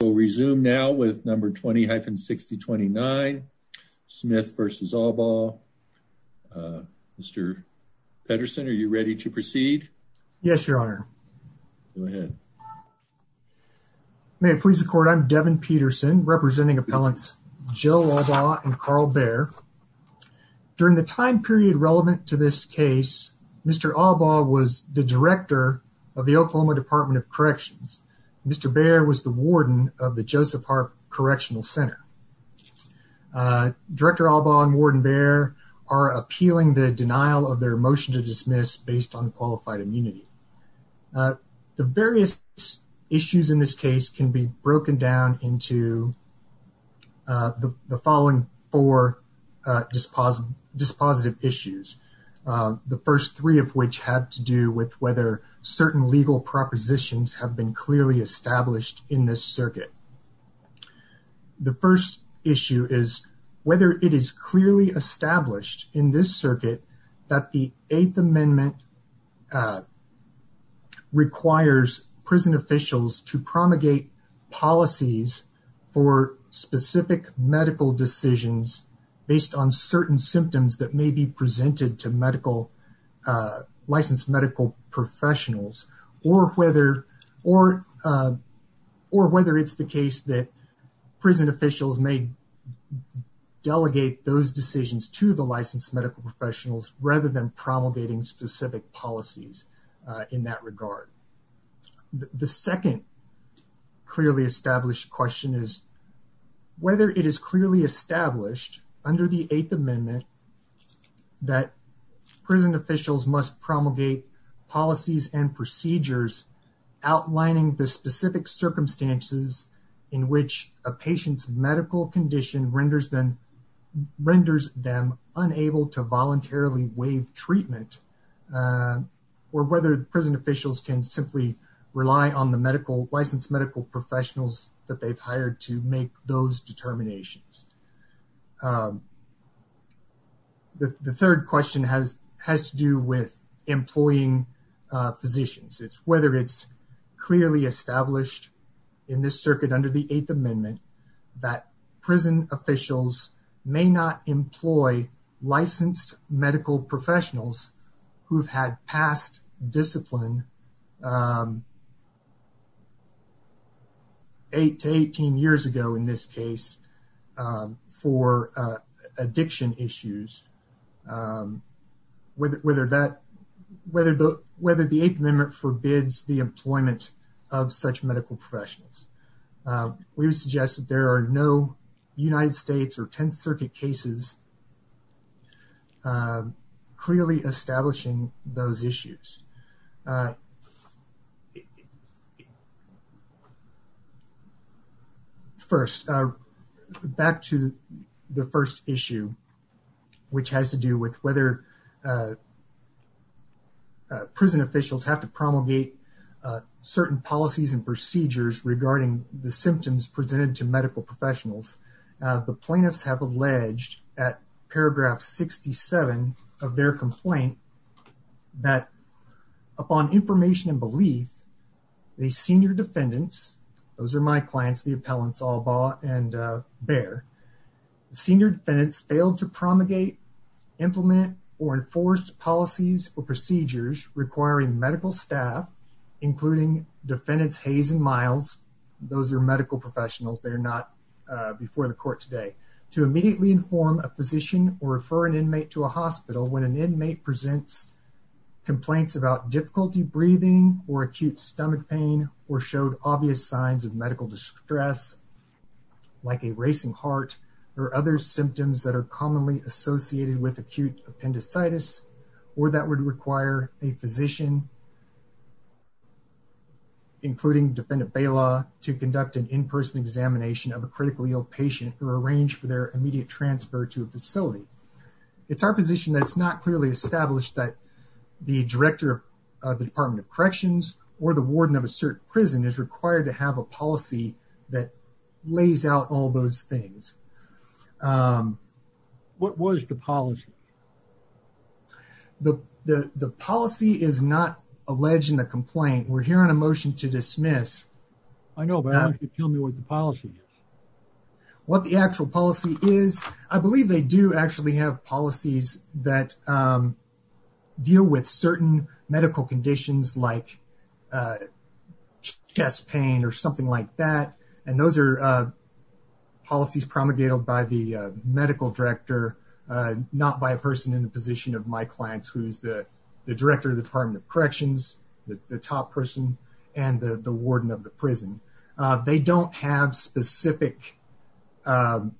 We'll resume now with number 20-6029, Smith v. Allbaugh. Uh, Mr. Pedersen, are you ready to proceed? Yes, your honor. Go ahead. May it please the court. I'm Devin Peterson representing appellants, Joe Allbaugh and Carl Baer. During the time period relevant to this case, Mr. Allbaugh was the director of the Oklahoma Department of Corrections. Mr. Baer was the warden of the Joseph Harp Correctional Center. Uh, director Allbaugh and warden Baer are appealing the denial of their motion to dismiss based on qualified immunity. Uh, the various issues in this case can be broken down into, uh, the, the following four, uh, dispositive issues. Uh, the first three of which have to do with whether certain legal propositions have been clearly established in this circuit. The first issue is whether it is clearly established in this circuit that the eighth amendment, uh, requires prison officials to promulgate policies for specific medical decisions based on certain symptoms that may be presented to medical, uh, licensed medical professionals or whether, or, uh, or whether it's the case that prison officials may delegate those decisions to the licensed medical professionals, rather than promulgating specific policies, uh, in that regard. The second clearly established question is whether it is clearly established under the eighth amendment that prison officials must promulgate policies and procedures outlining the specific circumstances in which a patient's medical condition renders them, renders them unable to voluntarily waive treatment, uh, or whether prison officials can simply rely on the medical licensed medical professionals that they've hired to make those determinations. Um, the third question has, has to do with employing, uh, physicians. It's whether it's clearly established in this circuit under the eighth amendment that prison officials may not employ licensed medical professionals who've had past discipline, um, eight to 18 years ago in this case, um, for, uh, addiction issues, um, whether, whether that, whether the, whether the eighth amendment forbids the employment of such medical professionals. Um, we would suggest that there are no United States or 10th circuit cases, uh, clearly establishing those issues. Uh, first, uh, back to the first issue, which has to do with whether, uh, uh, prison officials have to promulgate, uh, certain policies and procedures regarding the symptoms presented to medical professionals. Uh, the plaintiffs have alleged at paragraph 67 of their complaint that upon information and belief, the senior defendants, those are my clients, the appellants, Albaugh and, uh, Baer, senior defendants failed to promulgate, implement or enforce policies or procedures requiring medical staff, including defendants, Hayes and Miles. Those are medical professionals. They're not, uh, before the court today to immediately inform a physician or refer an inmate to a hospital when an inmate presents complaints about difficulty breathing or acute stomach pain, or showed obvious signs of medical distress, like a racing heart or other symptoms that are commonly associated with acute appendicitis, or that would require a physician, including defendant bail law to conduct an in-person examination of a critically ill patient or arrange for their immediate transfer to a facility. It's our position that it's not clearly established that the director of the department of corrections or the warden of a certain prison is required to have a policy that lays out all those things. Um, what was the policy? The, the, the policy is not alleged in the complaint. We're here on a motion to dismiss. I know, but I don't want you to tell me what the policy is. What the actual policy is. I believe they do actually have policies that, um, deal with certain medical conditions like, uh, chest pain or something like that. And those are, uh, policies promulgated by the medical director, uh, not by a person in the position of my clients, who's the director of the department of and the warden of the prison. Uh, they don't have specific, um,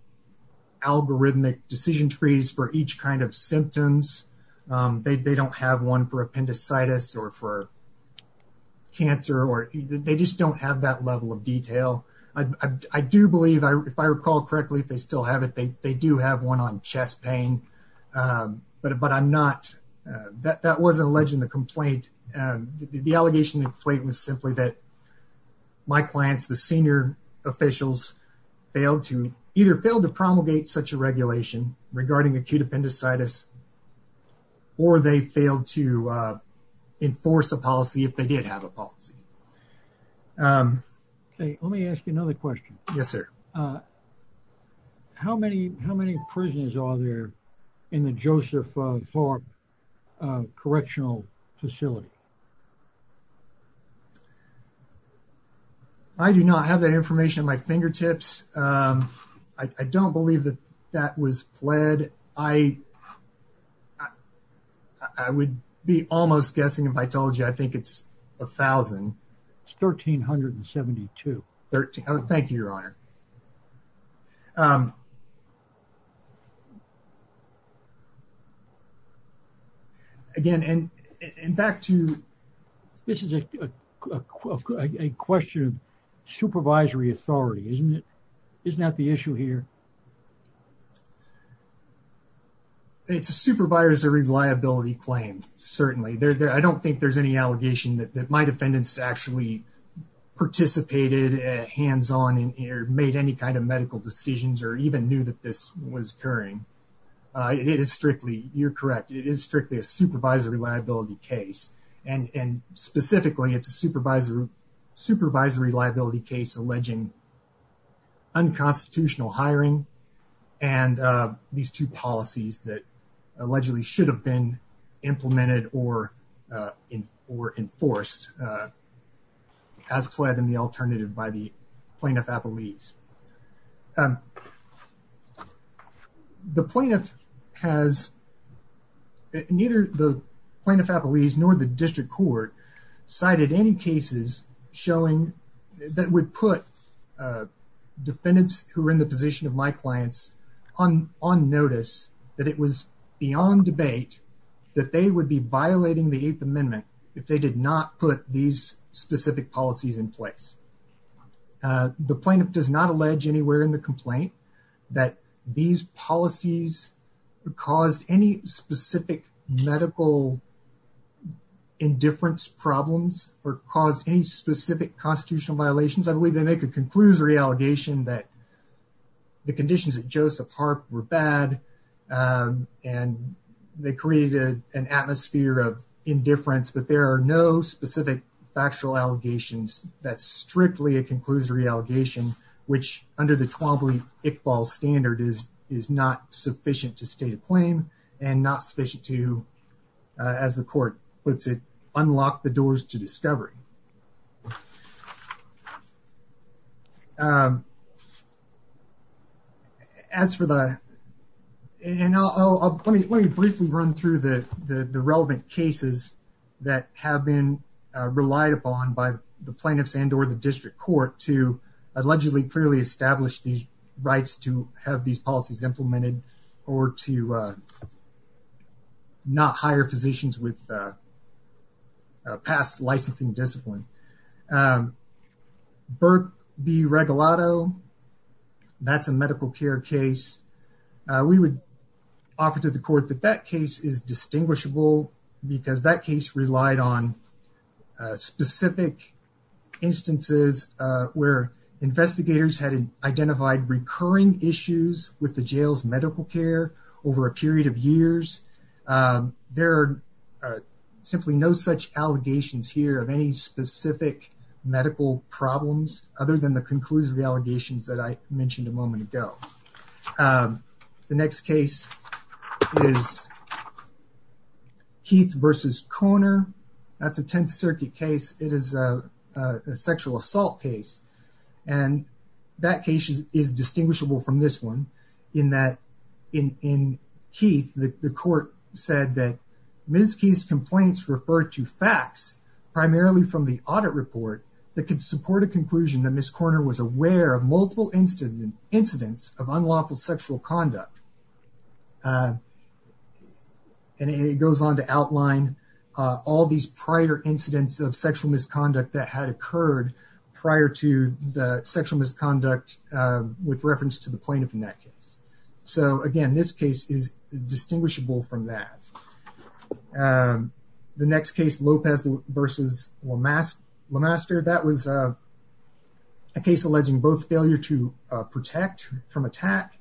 algorithmic decision trees for each kind of symptoms. Um, they, they don't have one for appendicitis or for cancer, or they just don't have that level of detail. I, I, I do believe I, if I recall correctly, if they still have it, they, they do have one on chest pain. Um, but, but I'm not, uh, that, that wasn't alleged in the complaint. Um, the, the, the allegation in the complaint was simply that my clients, the senior officials failed to either fail to promulgate such a regulation regarding acute appendicitis, or they failed to, uh, enforce a policy if they did have a policy. Um, Okay. Let me ask you another question. Yes, sir. Uh, how many, how many prisoners are there in the Joseph, uh, uh, correctional facility? I do not have that information at my fingertips. Um, I, I don't believe that that was pled. I, I would be almost guessing if I told you, I think it's a thousand. It's 1,372. 13. Oh, thank you, Your Honor. Um, again, and back to, this is a question of supervisory authority, isn't it? Isn't that the issue here? It's a supervisor reliability claim. Certainly there, there, I don't think there's any allegation that my defendants actually participated hands-on or made any kind of medical decisions or even knew that this was occurring. Uh, it is strictly, you're correct. It is strictly a supervisory liability case. And, and specifically it's a supervisory, supervisory liability case alleging unconstitutional hiring. And, uh, these two policies that allegedly should have been implemented or, uh, in, or enforced, uh, as pled in the alternative by the plaintiff-appellees. Um, the plaintiff has, neither the plaintiff-appellees nor the district court cited any cases showing that would put, uh, defendants who were in the position of my clients on, on notice that it was beyond debate that they would be violating the eighth amendment if they did not put these specific policies in place. Uh, the plaintiff does not allege anywhere in the complaint that these policies caused any specific medical indifference problems or cause any specific constitutional violations, I believe they make a conclusory allegation that the conditions that Joseph Harp were bad, um, and they created an atmosphere of indifference, but there are no specific factual allegations that strictly a conclusory allegation, which under the 12 week Iqbal standard is, is not sufficient to state a claim and not sufficient to, uh, as the court puts it, unlock the doors to As for the, and I'll, I'll, let me, let me briefly run through the, the, the relevant cases that have been relied upon by the plaintiffs and, or the district court to allegedly clearly established these rights to have these policies implemented or to, uh, not hire physicians with a past licensing discipline. Um, Burt B. Regalado, that's a medical care case. Uh, we would offer to the court that that case is distinguishable because that case relied on, uh, specific instances, uh, where investigators had identified recurring issues with the jail's medical care over a period of years. Um, there are simply no such allegations here of any specific medical problems other than the conclusory allegations that I mentioned a moment ago. Um, the next case is Keith versus Koner. That's a 10th circuit case. It is a, uh, a sexual assault case. And that case is distinguishable from this one in that in, in Keith, the court said that Ms. Keith's complaints refer to facts primarily from the audit report that could support a conclusion that Ms. Koner was aware of multiple incidents of unlawful sexual conduct. Uh, and it goes on to outline, uh, all these prior incidents of sexual misconduct that had occurred prior to the sexual misconduct, uh, with reference to the plaintiff in that case. So again, this case is distinguishable from that. Um, the next case, Lopez versus Lamaster. That was, uh, a case alleging both failure to, uh, protect from attack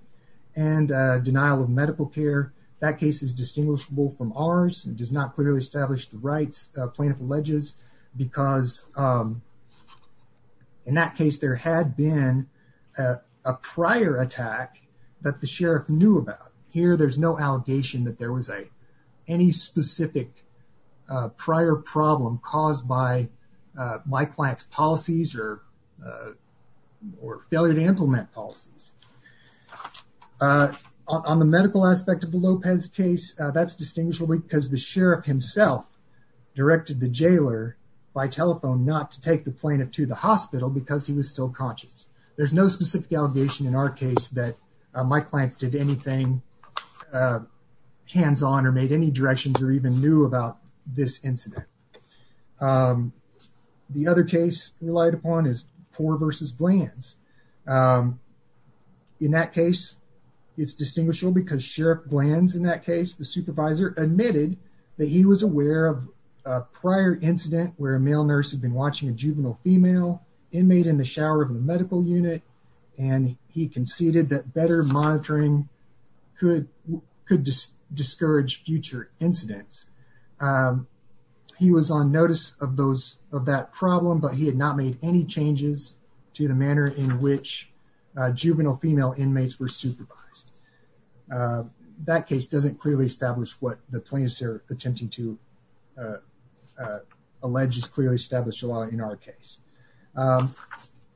and, uh, denial of medical care. That case is distinguishable from ours. It does not clearly establish the rights plaintiff alleges because, um, in that that the sheriff knew about here, there's no allegation that there was a, any specific, uh, prior problem caused by, uh, my client's policies or, uh, or failure to implement policies, uh, on the medical aspect of the Lopez case. Uh, that's distinguishable because the sheriff himself directed the jailer by telephone, not to take the plaintiff to the hospital because he was still conscious. There's no specific allegation in our case that, uh, my clients did anything, uh, hands-on or made any directions or even knew about this incident. Um, the other case relied upon is Poore versus Glanz. Um, in that case, it's distinguishable because Sheriff Glanz in that case, the supervisor admitted that he was aware of a prior incident where a male nurse had been watching a juvenile female inmate in the shower of the medical unit. And he conceded that better monitoring could, could discourage future incidents. Um, he was on notice of those, of that problem, but he had not made any changes to the manner in which, uh, juvenile female inmates were supervised. Uh, that case doesn't clearly establish what the plaintiffs are attempting to, uh, allege is clearly established a lot in our case. Um,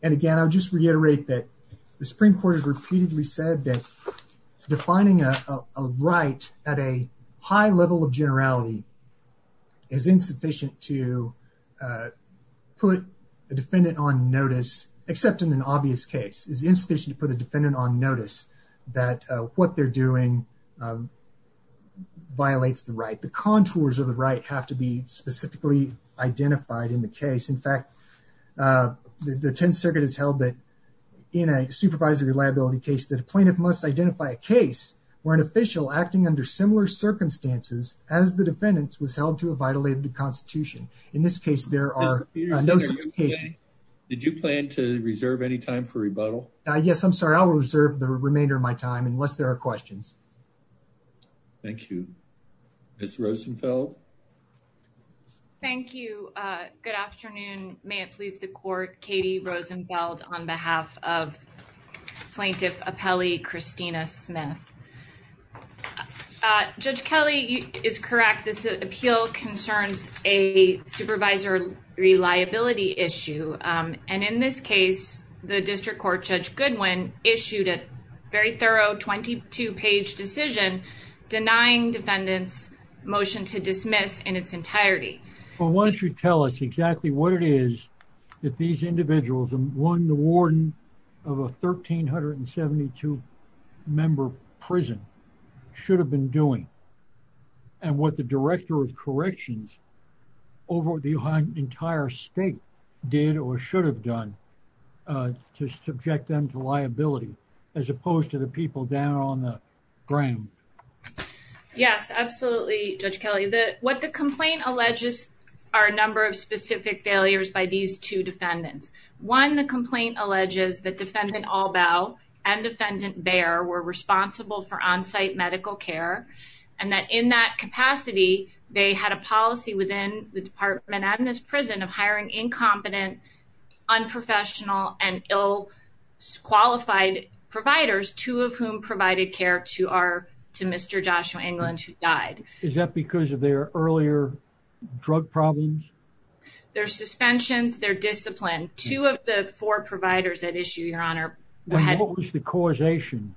and again, I'll just reiterate that the Supreme Court has repeatedly said that defining a right at a high level of generality is insufficient to, uh, put a defendant on notice, except in an obvious case is insufficient to put a defendant on notice that, uh, what they're doing, um, violates the right. The contours of the right have to be specifically identified in the case. In fact, uh, the 10th circuit has held that in a supervisory liability case, that a plaintiff must identify a case where an official acting under similar circumstances as the defendants was held to a vitality of the constitution. In this case, there are no such cases. Did you plan to reserve any time for rebuttal? Uh, yes, I'm sorry. I will reserve the remainder of my time unless there are questions. Thank you. Ms. Rosenfeld. Thank you. Uh, good afternoon. May it please the court, Katie Rosenfeld on behalf of plaintiff appellee, Christina Smith. Uh, Judge Kelly is correct. This appeal concerns a supervisory liability issue. Um, and in this case, the district court judge Goodwin issued a very thorough 22 page decision denying defendants motion to dismiss in its entirety. Well, why don't you tell us exactly what it is that these individuals, one, the warden of a 1,372 member prison should have been doing and what the director of corrections over the entire state did or should have done, uh, to subject them to liability as opposed to the people down on the ground? Yes, absolutely. Judge Kelly, the, what the complaint alleges are a number of specific failures by these two defendants. One, the complaint alleges that defendant Albaugh and defendant Baer were responsible for onsite medical care and that in that capacity, they had a policy within the department and this prison of hiring incompetent, unprofessional and ill qualified providers, two of whom provided care to our, to Mr. Joshua England, who died. Is that because of their earlier drug problems, their suspensions, their discipline, two of the four providers at issue, your honor, what was the causation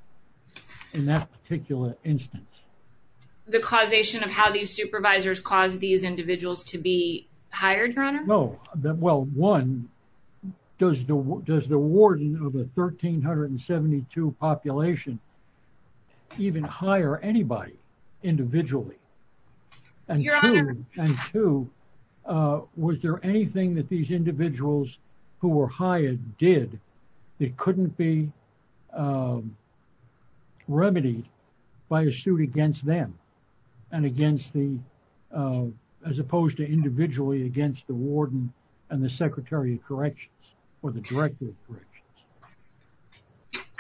in that particular instance? The causation of how these supervisors caused these individuals to be hired, your honor. No, well, one does the, does the warden of a 1,372 population even hire anybody individually? And two, uh, was there anything that these individuals who were hired did that couldn't be, um, remedied by a suit against them and against the, uh, as opposed to individually against the warden and the secretary of corrections or the director of corrections.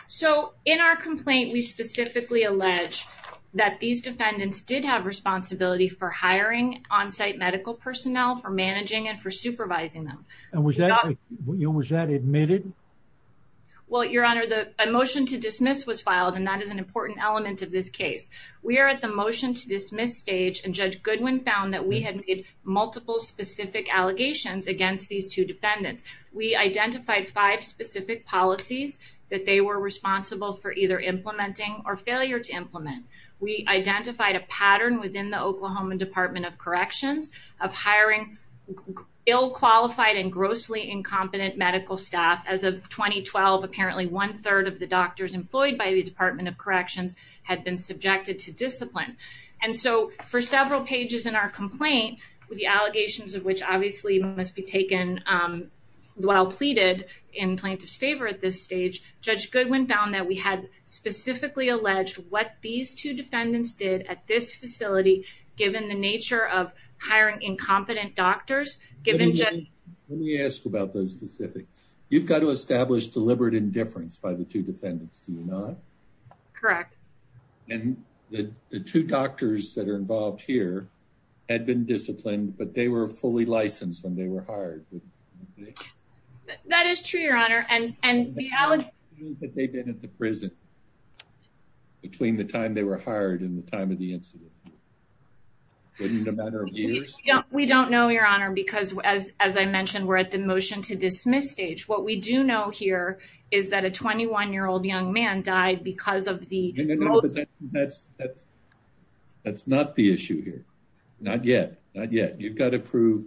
So in our complaint, we specifically allege that these defendants did have responsibility for hiring onsite medical personnel for managing and for supervising them. And was that, was that admitted? Well, your honor, the motion to dismiss was filed and that is an important element of this case. We are at the motion to dismiss stage and judge Goodwin found that we had multiple specific allegations against these two defendants. We identified five specific policies that they were responsible for either implementing or failure to implement. We identified a pattern within the Oklahoma department of corrections of hiring ill qualified and grossly incompetent medical staff as of 2012. Apparently one third of the doctors employed by the department of discipline. And so for several pages in our complaint, with the allegations of which obviously must be taken, um, while pleaded in plaintiff's favor at this stage, judge Goodwin found that we had specifically alleged what these two defendants did at this facility, given the nature of hiring incompetent doctors, given... Let me ask about those specifics. You've got to establish deliberate indifference by the two defendants. Do you not? Correct. And the, the two doctors that are involved here had been disciplined, but they were fully licensed when they were hired. That is true, your honor. And, and the allegation that they've been at the prison between the time they were hired and the time of the incident. Wasn't it a matter of years? We don't know, your honor, because as, as I mentioned, we're at the motion to dismiss stage. What we do know here is that a 21 year old young man died because of the... That's, that's, that's not the issue here. Not yet. Not yet. You've got to prove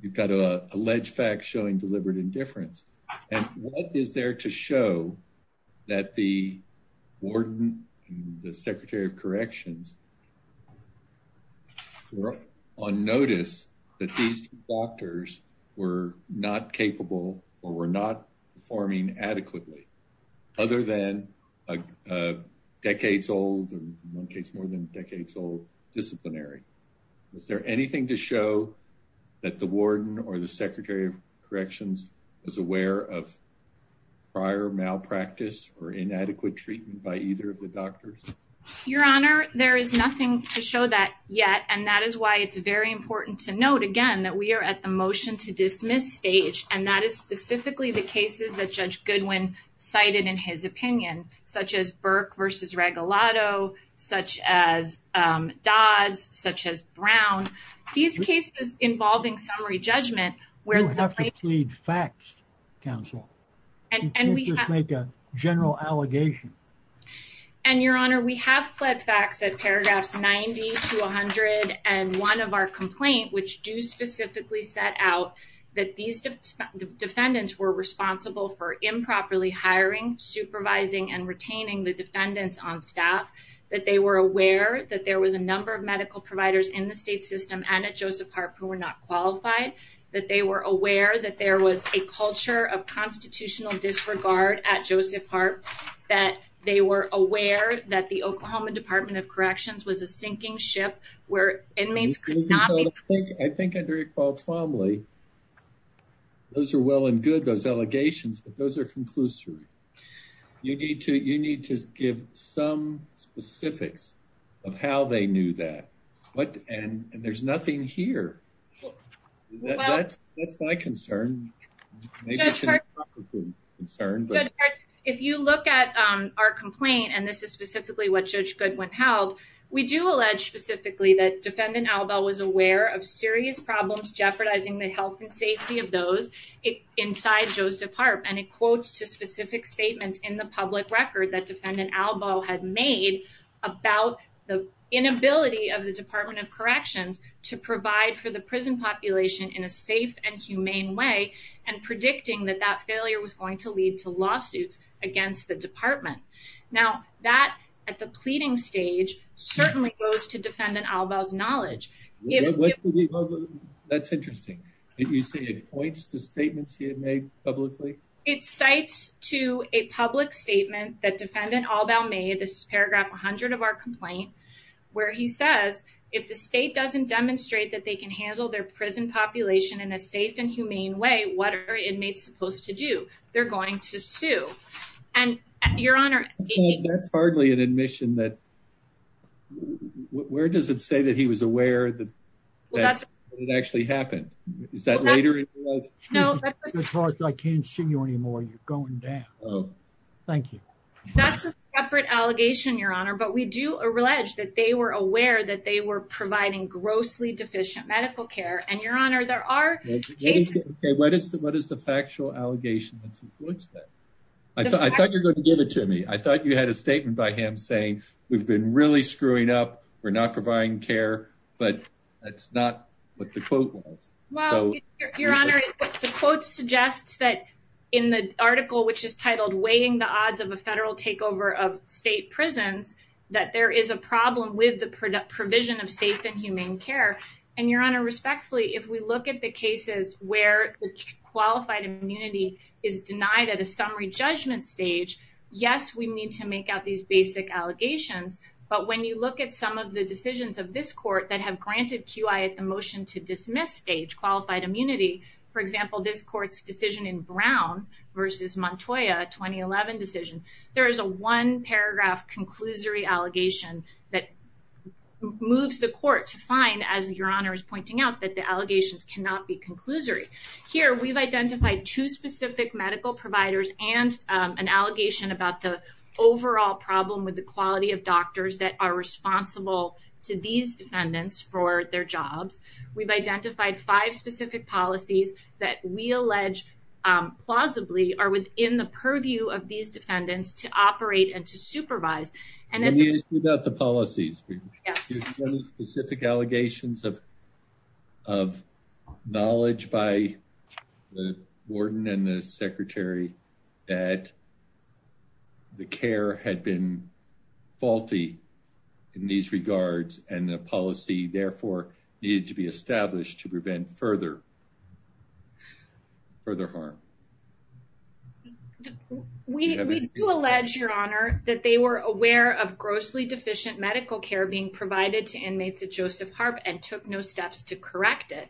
you've got a alleged fact showing deliberate indifference. And what is there to show that the warden, the secretary of corrections, on notice that these doctors were not capable or were not performing adequately other than a decades old, in one case, more than decades old disciplinary, is there anything to show that the warden or the secretary of corrections is aware of prior malpractice or inadequate treatment by either of the doctors? Your honor, there is nothing to show that yet. And that is why it's very important to note again, that we are at the motion to the one that judge Goodwin cited in his opinion, such as Burke versus Regalado, such as Dods, such as Brown. These cases involving summary judgment You have to plead facts, Counsel. Can't just make a general allegation. And, Your Honor, we have plead facts at paragraphs 90 to 101 of our complaint, which do specifically set out that these defendants were responsible for improperly hiring, supervising and retaining the defendants on staff, that they were aware that there was a number of medical providers in the state system and at Joseph Harp who were not qualified, that they were aware that there was a culture of that the Oklahoma Department of Corrections was a sinking ship where inmates could not I think under Iqbal Twombly, those are well and good, those allegations, but those are conclusory. You need to you need to give some specifics of how they knew that. But and there's nothing here. That's my concern. Maybe it's a concern, but if you look at our complaint and this is specifically what Judge Goodwin held, we do allege specifically that Defendant Albaugh was aware of serious problems jeopardizing the health and safety of those inside Joseph Harp. And it quotes to specific statements in the public record that Defendant Albaugh had made about the inability of the Department of Corrections to provide for the prison population in a safe and humane way and predicting that that failure was going to lead to lawsuits against the department. Now, that at the pleading stage certainly goes to Defendant Albaugh's knowledge. That's interesting that you say it points to statements he had made publicly. It cites to a public statement that Defendant Albaugh made. This is paragraph 100 of our complaint where he says if the state doesn't demonstrate that they can handle their prison population in a safe and humane way, what are inmates supposed to do? They're going to sue. And your honor, that's hardly an admission that. Where does it say that he was aware that it actually happened? Is that later? No, I can't see you anymore. You're going down. Thank you. That's a separate allegation, your honor. But we do allege that they were aware that they were providing grossly deficient medical care. And your honor, there are cases. What is the what is the factual allegation that supports that? I thought you're going to give it to me. I thought you had a statement by him saying we've been really screwing up. We're not providing care. But that's not what the quote was. Well, your honor, the quote suggests that in the article, which is titled Weighing the Case, that there is a problem with the provision of safe and humane care. And your honor, respectfully, if we look at the cases where qualified immunity is denied at a summary judgment stage, yes, we need to make out these basic allegations. But when you look at some of the decisions of this court that have granted QI at the motion to dismiss stage qualified immunity, for example, this court's decision in Brown versus Montoya 2011 decision, there is a one paragraph conclusory allegation that moves the court to find, as your honor is pointing out, that the allegations cannot be conclusory. Here, we've identified two specific medical providers and an allegation about the overall problem with the quality of doctors that are responsible to these defendants for their jobs. We've identified five specific policies that we allege plausibly are within the purview of these defendants to operate and to supervise. And then about the policies, specific allegations of of knowledge by the warden and the secretary that. The care had been faulty in these regards, and the policy therefore needed to be established to prevent further. Further harm. We do allege, your honor, that they were aware of grossly deficient medical care being provided to inmates at Joseph Harp and took no steps to correct it.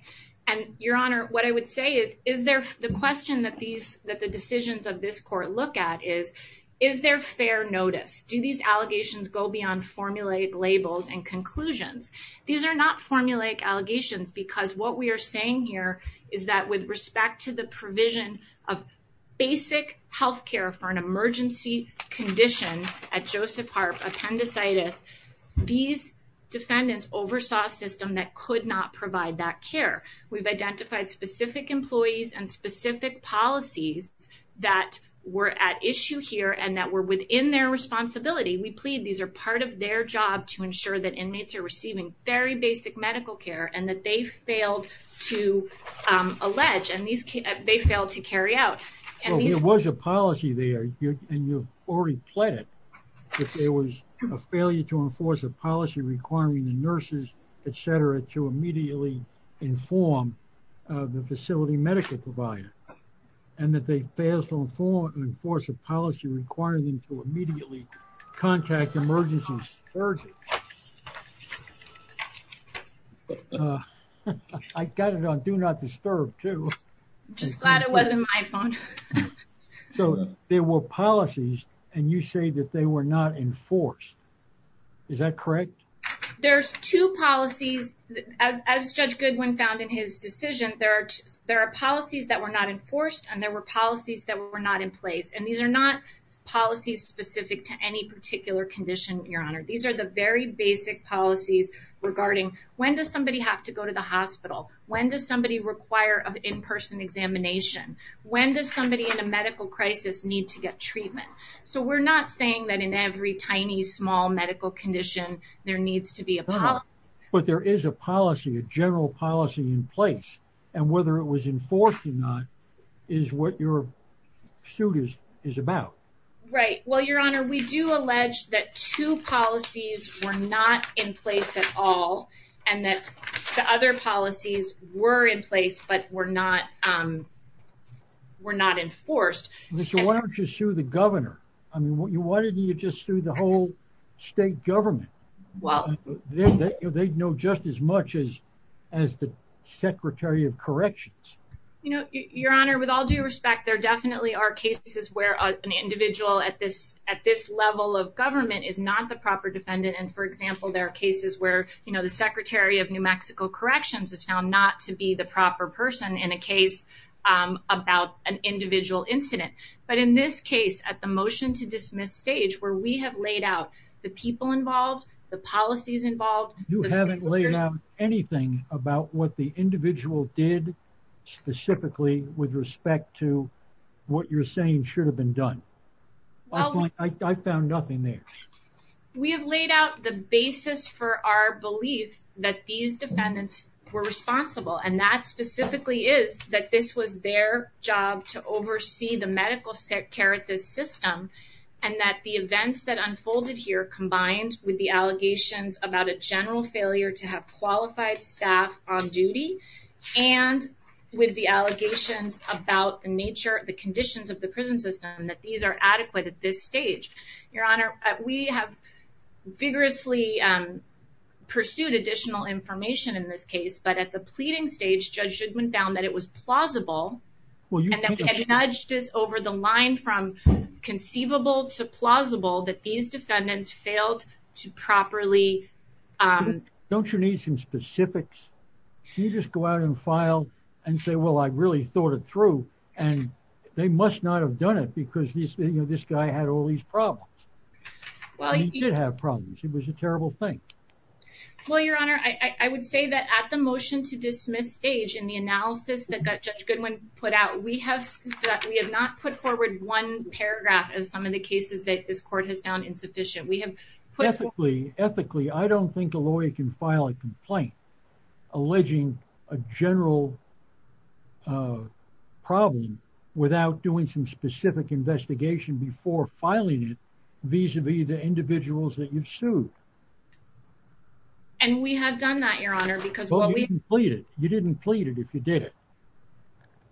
And your honor, what I would say is, is there the question that these that the decisions of this court look at is, is there fair notice? Do these allegations go beyond formulaic labels and conclusions? These are not formulaic allegations, because what we are saying here is that with respect to the provision of basic health care for an emergency condition at Joseph Harp, appendicitis, these defendants oversaw a system that could not provide that were at issue here and that were within their responsibility. We plead these are part of their job to ensure that inmates are receiving very basic medical care and that they failed to allege and they failed to carry out. And there was a policy there and you've already pledged that there was a failure to enforce a policy requiring the nurses, et cetera, to immediately inform the facility medical provider and that they failed to inform and enforce a policy requiring them to immediately contact emergency surgeons. I got it on do not disturb too. Just glad it wasn't my phone. So there were policies and you say that they were not enforced. Is that correct? There's two policies as Judge Goodwin found in his decision. There are there are policies that were not enforced and there were policies that were not in place. And these are not policies specific to any particular condition. Your Honor, these are the very basic policies regarding when does somebody have to go to the hospital? When does somebody require an in-person examination? When does somebody in a medical crisis need to get treatment? So we're not saying that in every tiny, small medical condition, there needs to be a but there is a policy, a general policy in place. And whether it was enforced or not is what your suit is is about. Right. Well, Your Honor, we do allege that two policies were not in place at all and that the other policies were in place, but were not were not enforced. So why don't you sue the governor? I mean, why didn't you just sue the whole state government? Well, they know just as much as as the secretary of corrections. You know, Your Honor, with all due respect, there definitely are cases where an individual at this at this level of government is not the proper defendant. And for example, there are cases where, you know, the secretary of New Mexico Corrections is found not to be the proper person in a case about an individual incident. But in this case, at the motion to dismiss stage where we have laid out the people involved, the policies involved. You haven't laid out anything about what the individual did specifically with respect to what you're saying should have been done. Well, I found nothing there. We have laid out the basis for our belief that these defendants were responsible. And that specifically is that this was their job to oversee the medical care at this system. And that the events that unfolded here combined with the allegations about a general failure to have qualified staff on duty and with the allegations about the nature, the conditions of the prison system, that these are adequate at this stage. Your Honor, we have vigorously pursued additional information in this case. But at the pleading stage, Judge Shugman found that it was plausible and nudged us over the line from conceivable to plausible that these defendants failed to properly. Don't you need some specifics? Can you just go out and file and say, well, I really thought it through and they must not have done it because this guy had all these problems. Well, he did have problems. It was a terrible thing. Well, Your Honor, I would say that at the motion to dismiss stage in the analysis that Judge Goodwin put out, we have that we have not put forward one paragraph as some of the cases that this court has found insufficient. We have put forth. Ethically, I don't think a lawyer can file a complaint alleging a general problem without doing some specific investigation before filing it vis-a-vis the individuals that you've sued. And we have done that, Your Honor, because. Well, you didn't plead it. You didn't plead it if you did it.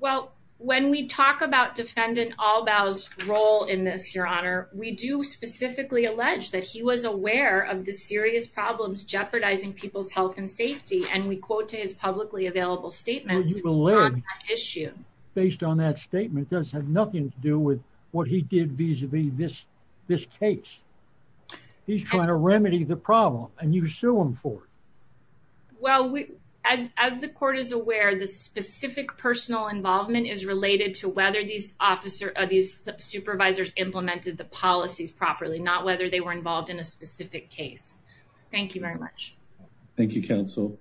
Well, when we talk about Defendant Albaugh's role in this, Your Honor, we do specifically allege that he was aware of the serious problems jeopardizing people's health and safety. And we quote to his publicly available statements on that issue. Based on that statement does have nothing to do with what he did vis-a-vis this this case. He's trying to remedy the problem and you sue him for it. Well, as as the court is aware, the specific personal involvement is related to whether these officer or these supervisors implemented the policies properly, not whether they were involved in a specific case. Thank you very much. Thank you, counsel.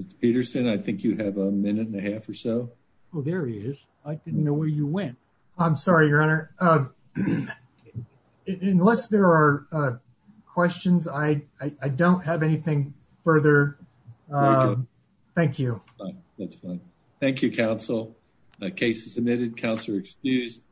Mr. Peterson, I think you have a minute and a half or so. Well, there he is. I didn't know where you went. I'm sorry, Your Honor. Unless there are questions, I don't have anything further. Thank you. That's fine. Thank you, counsel. The case is submitted. Counselor excused.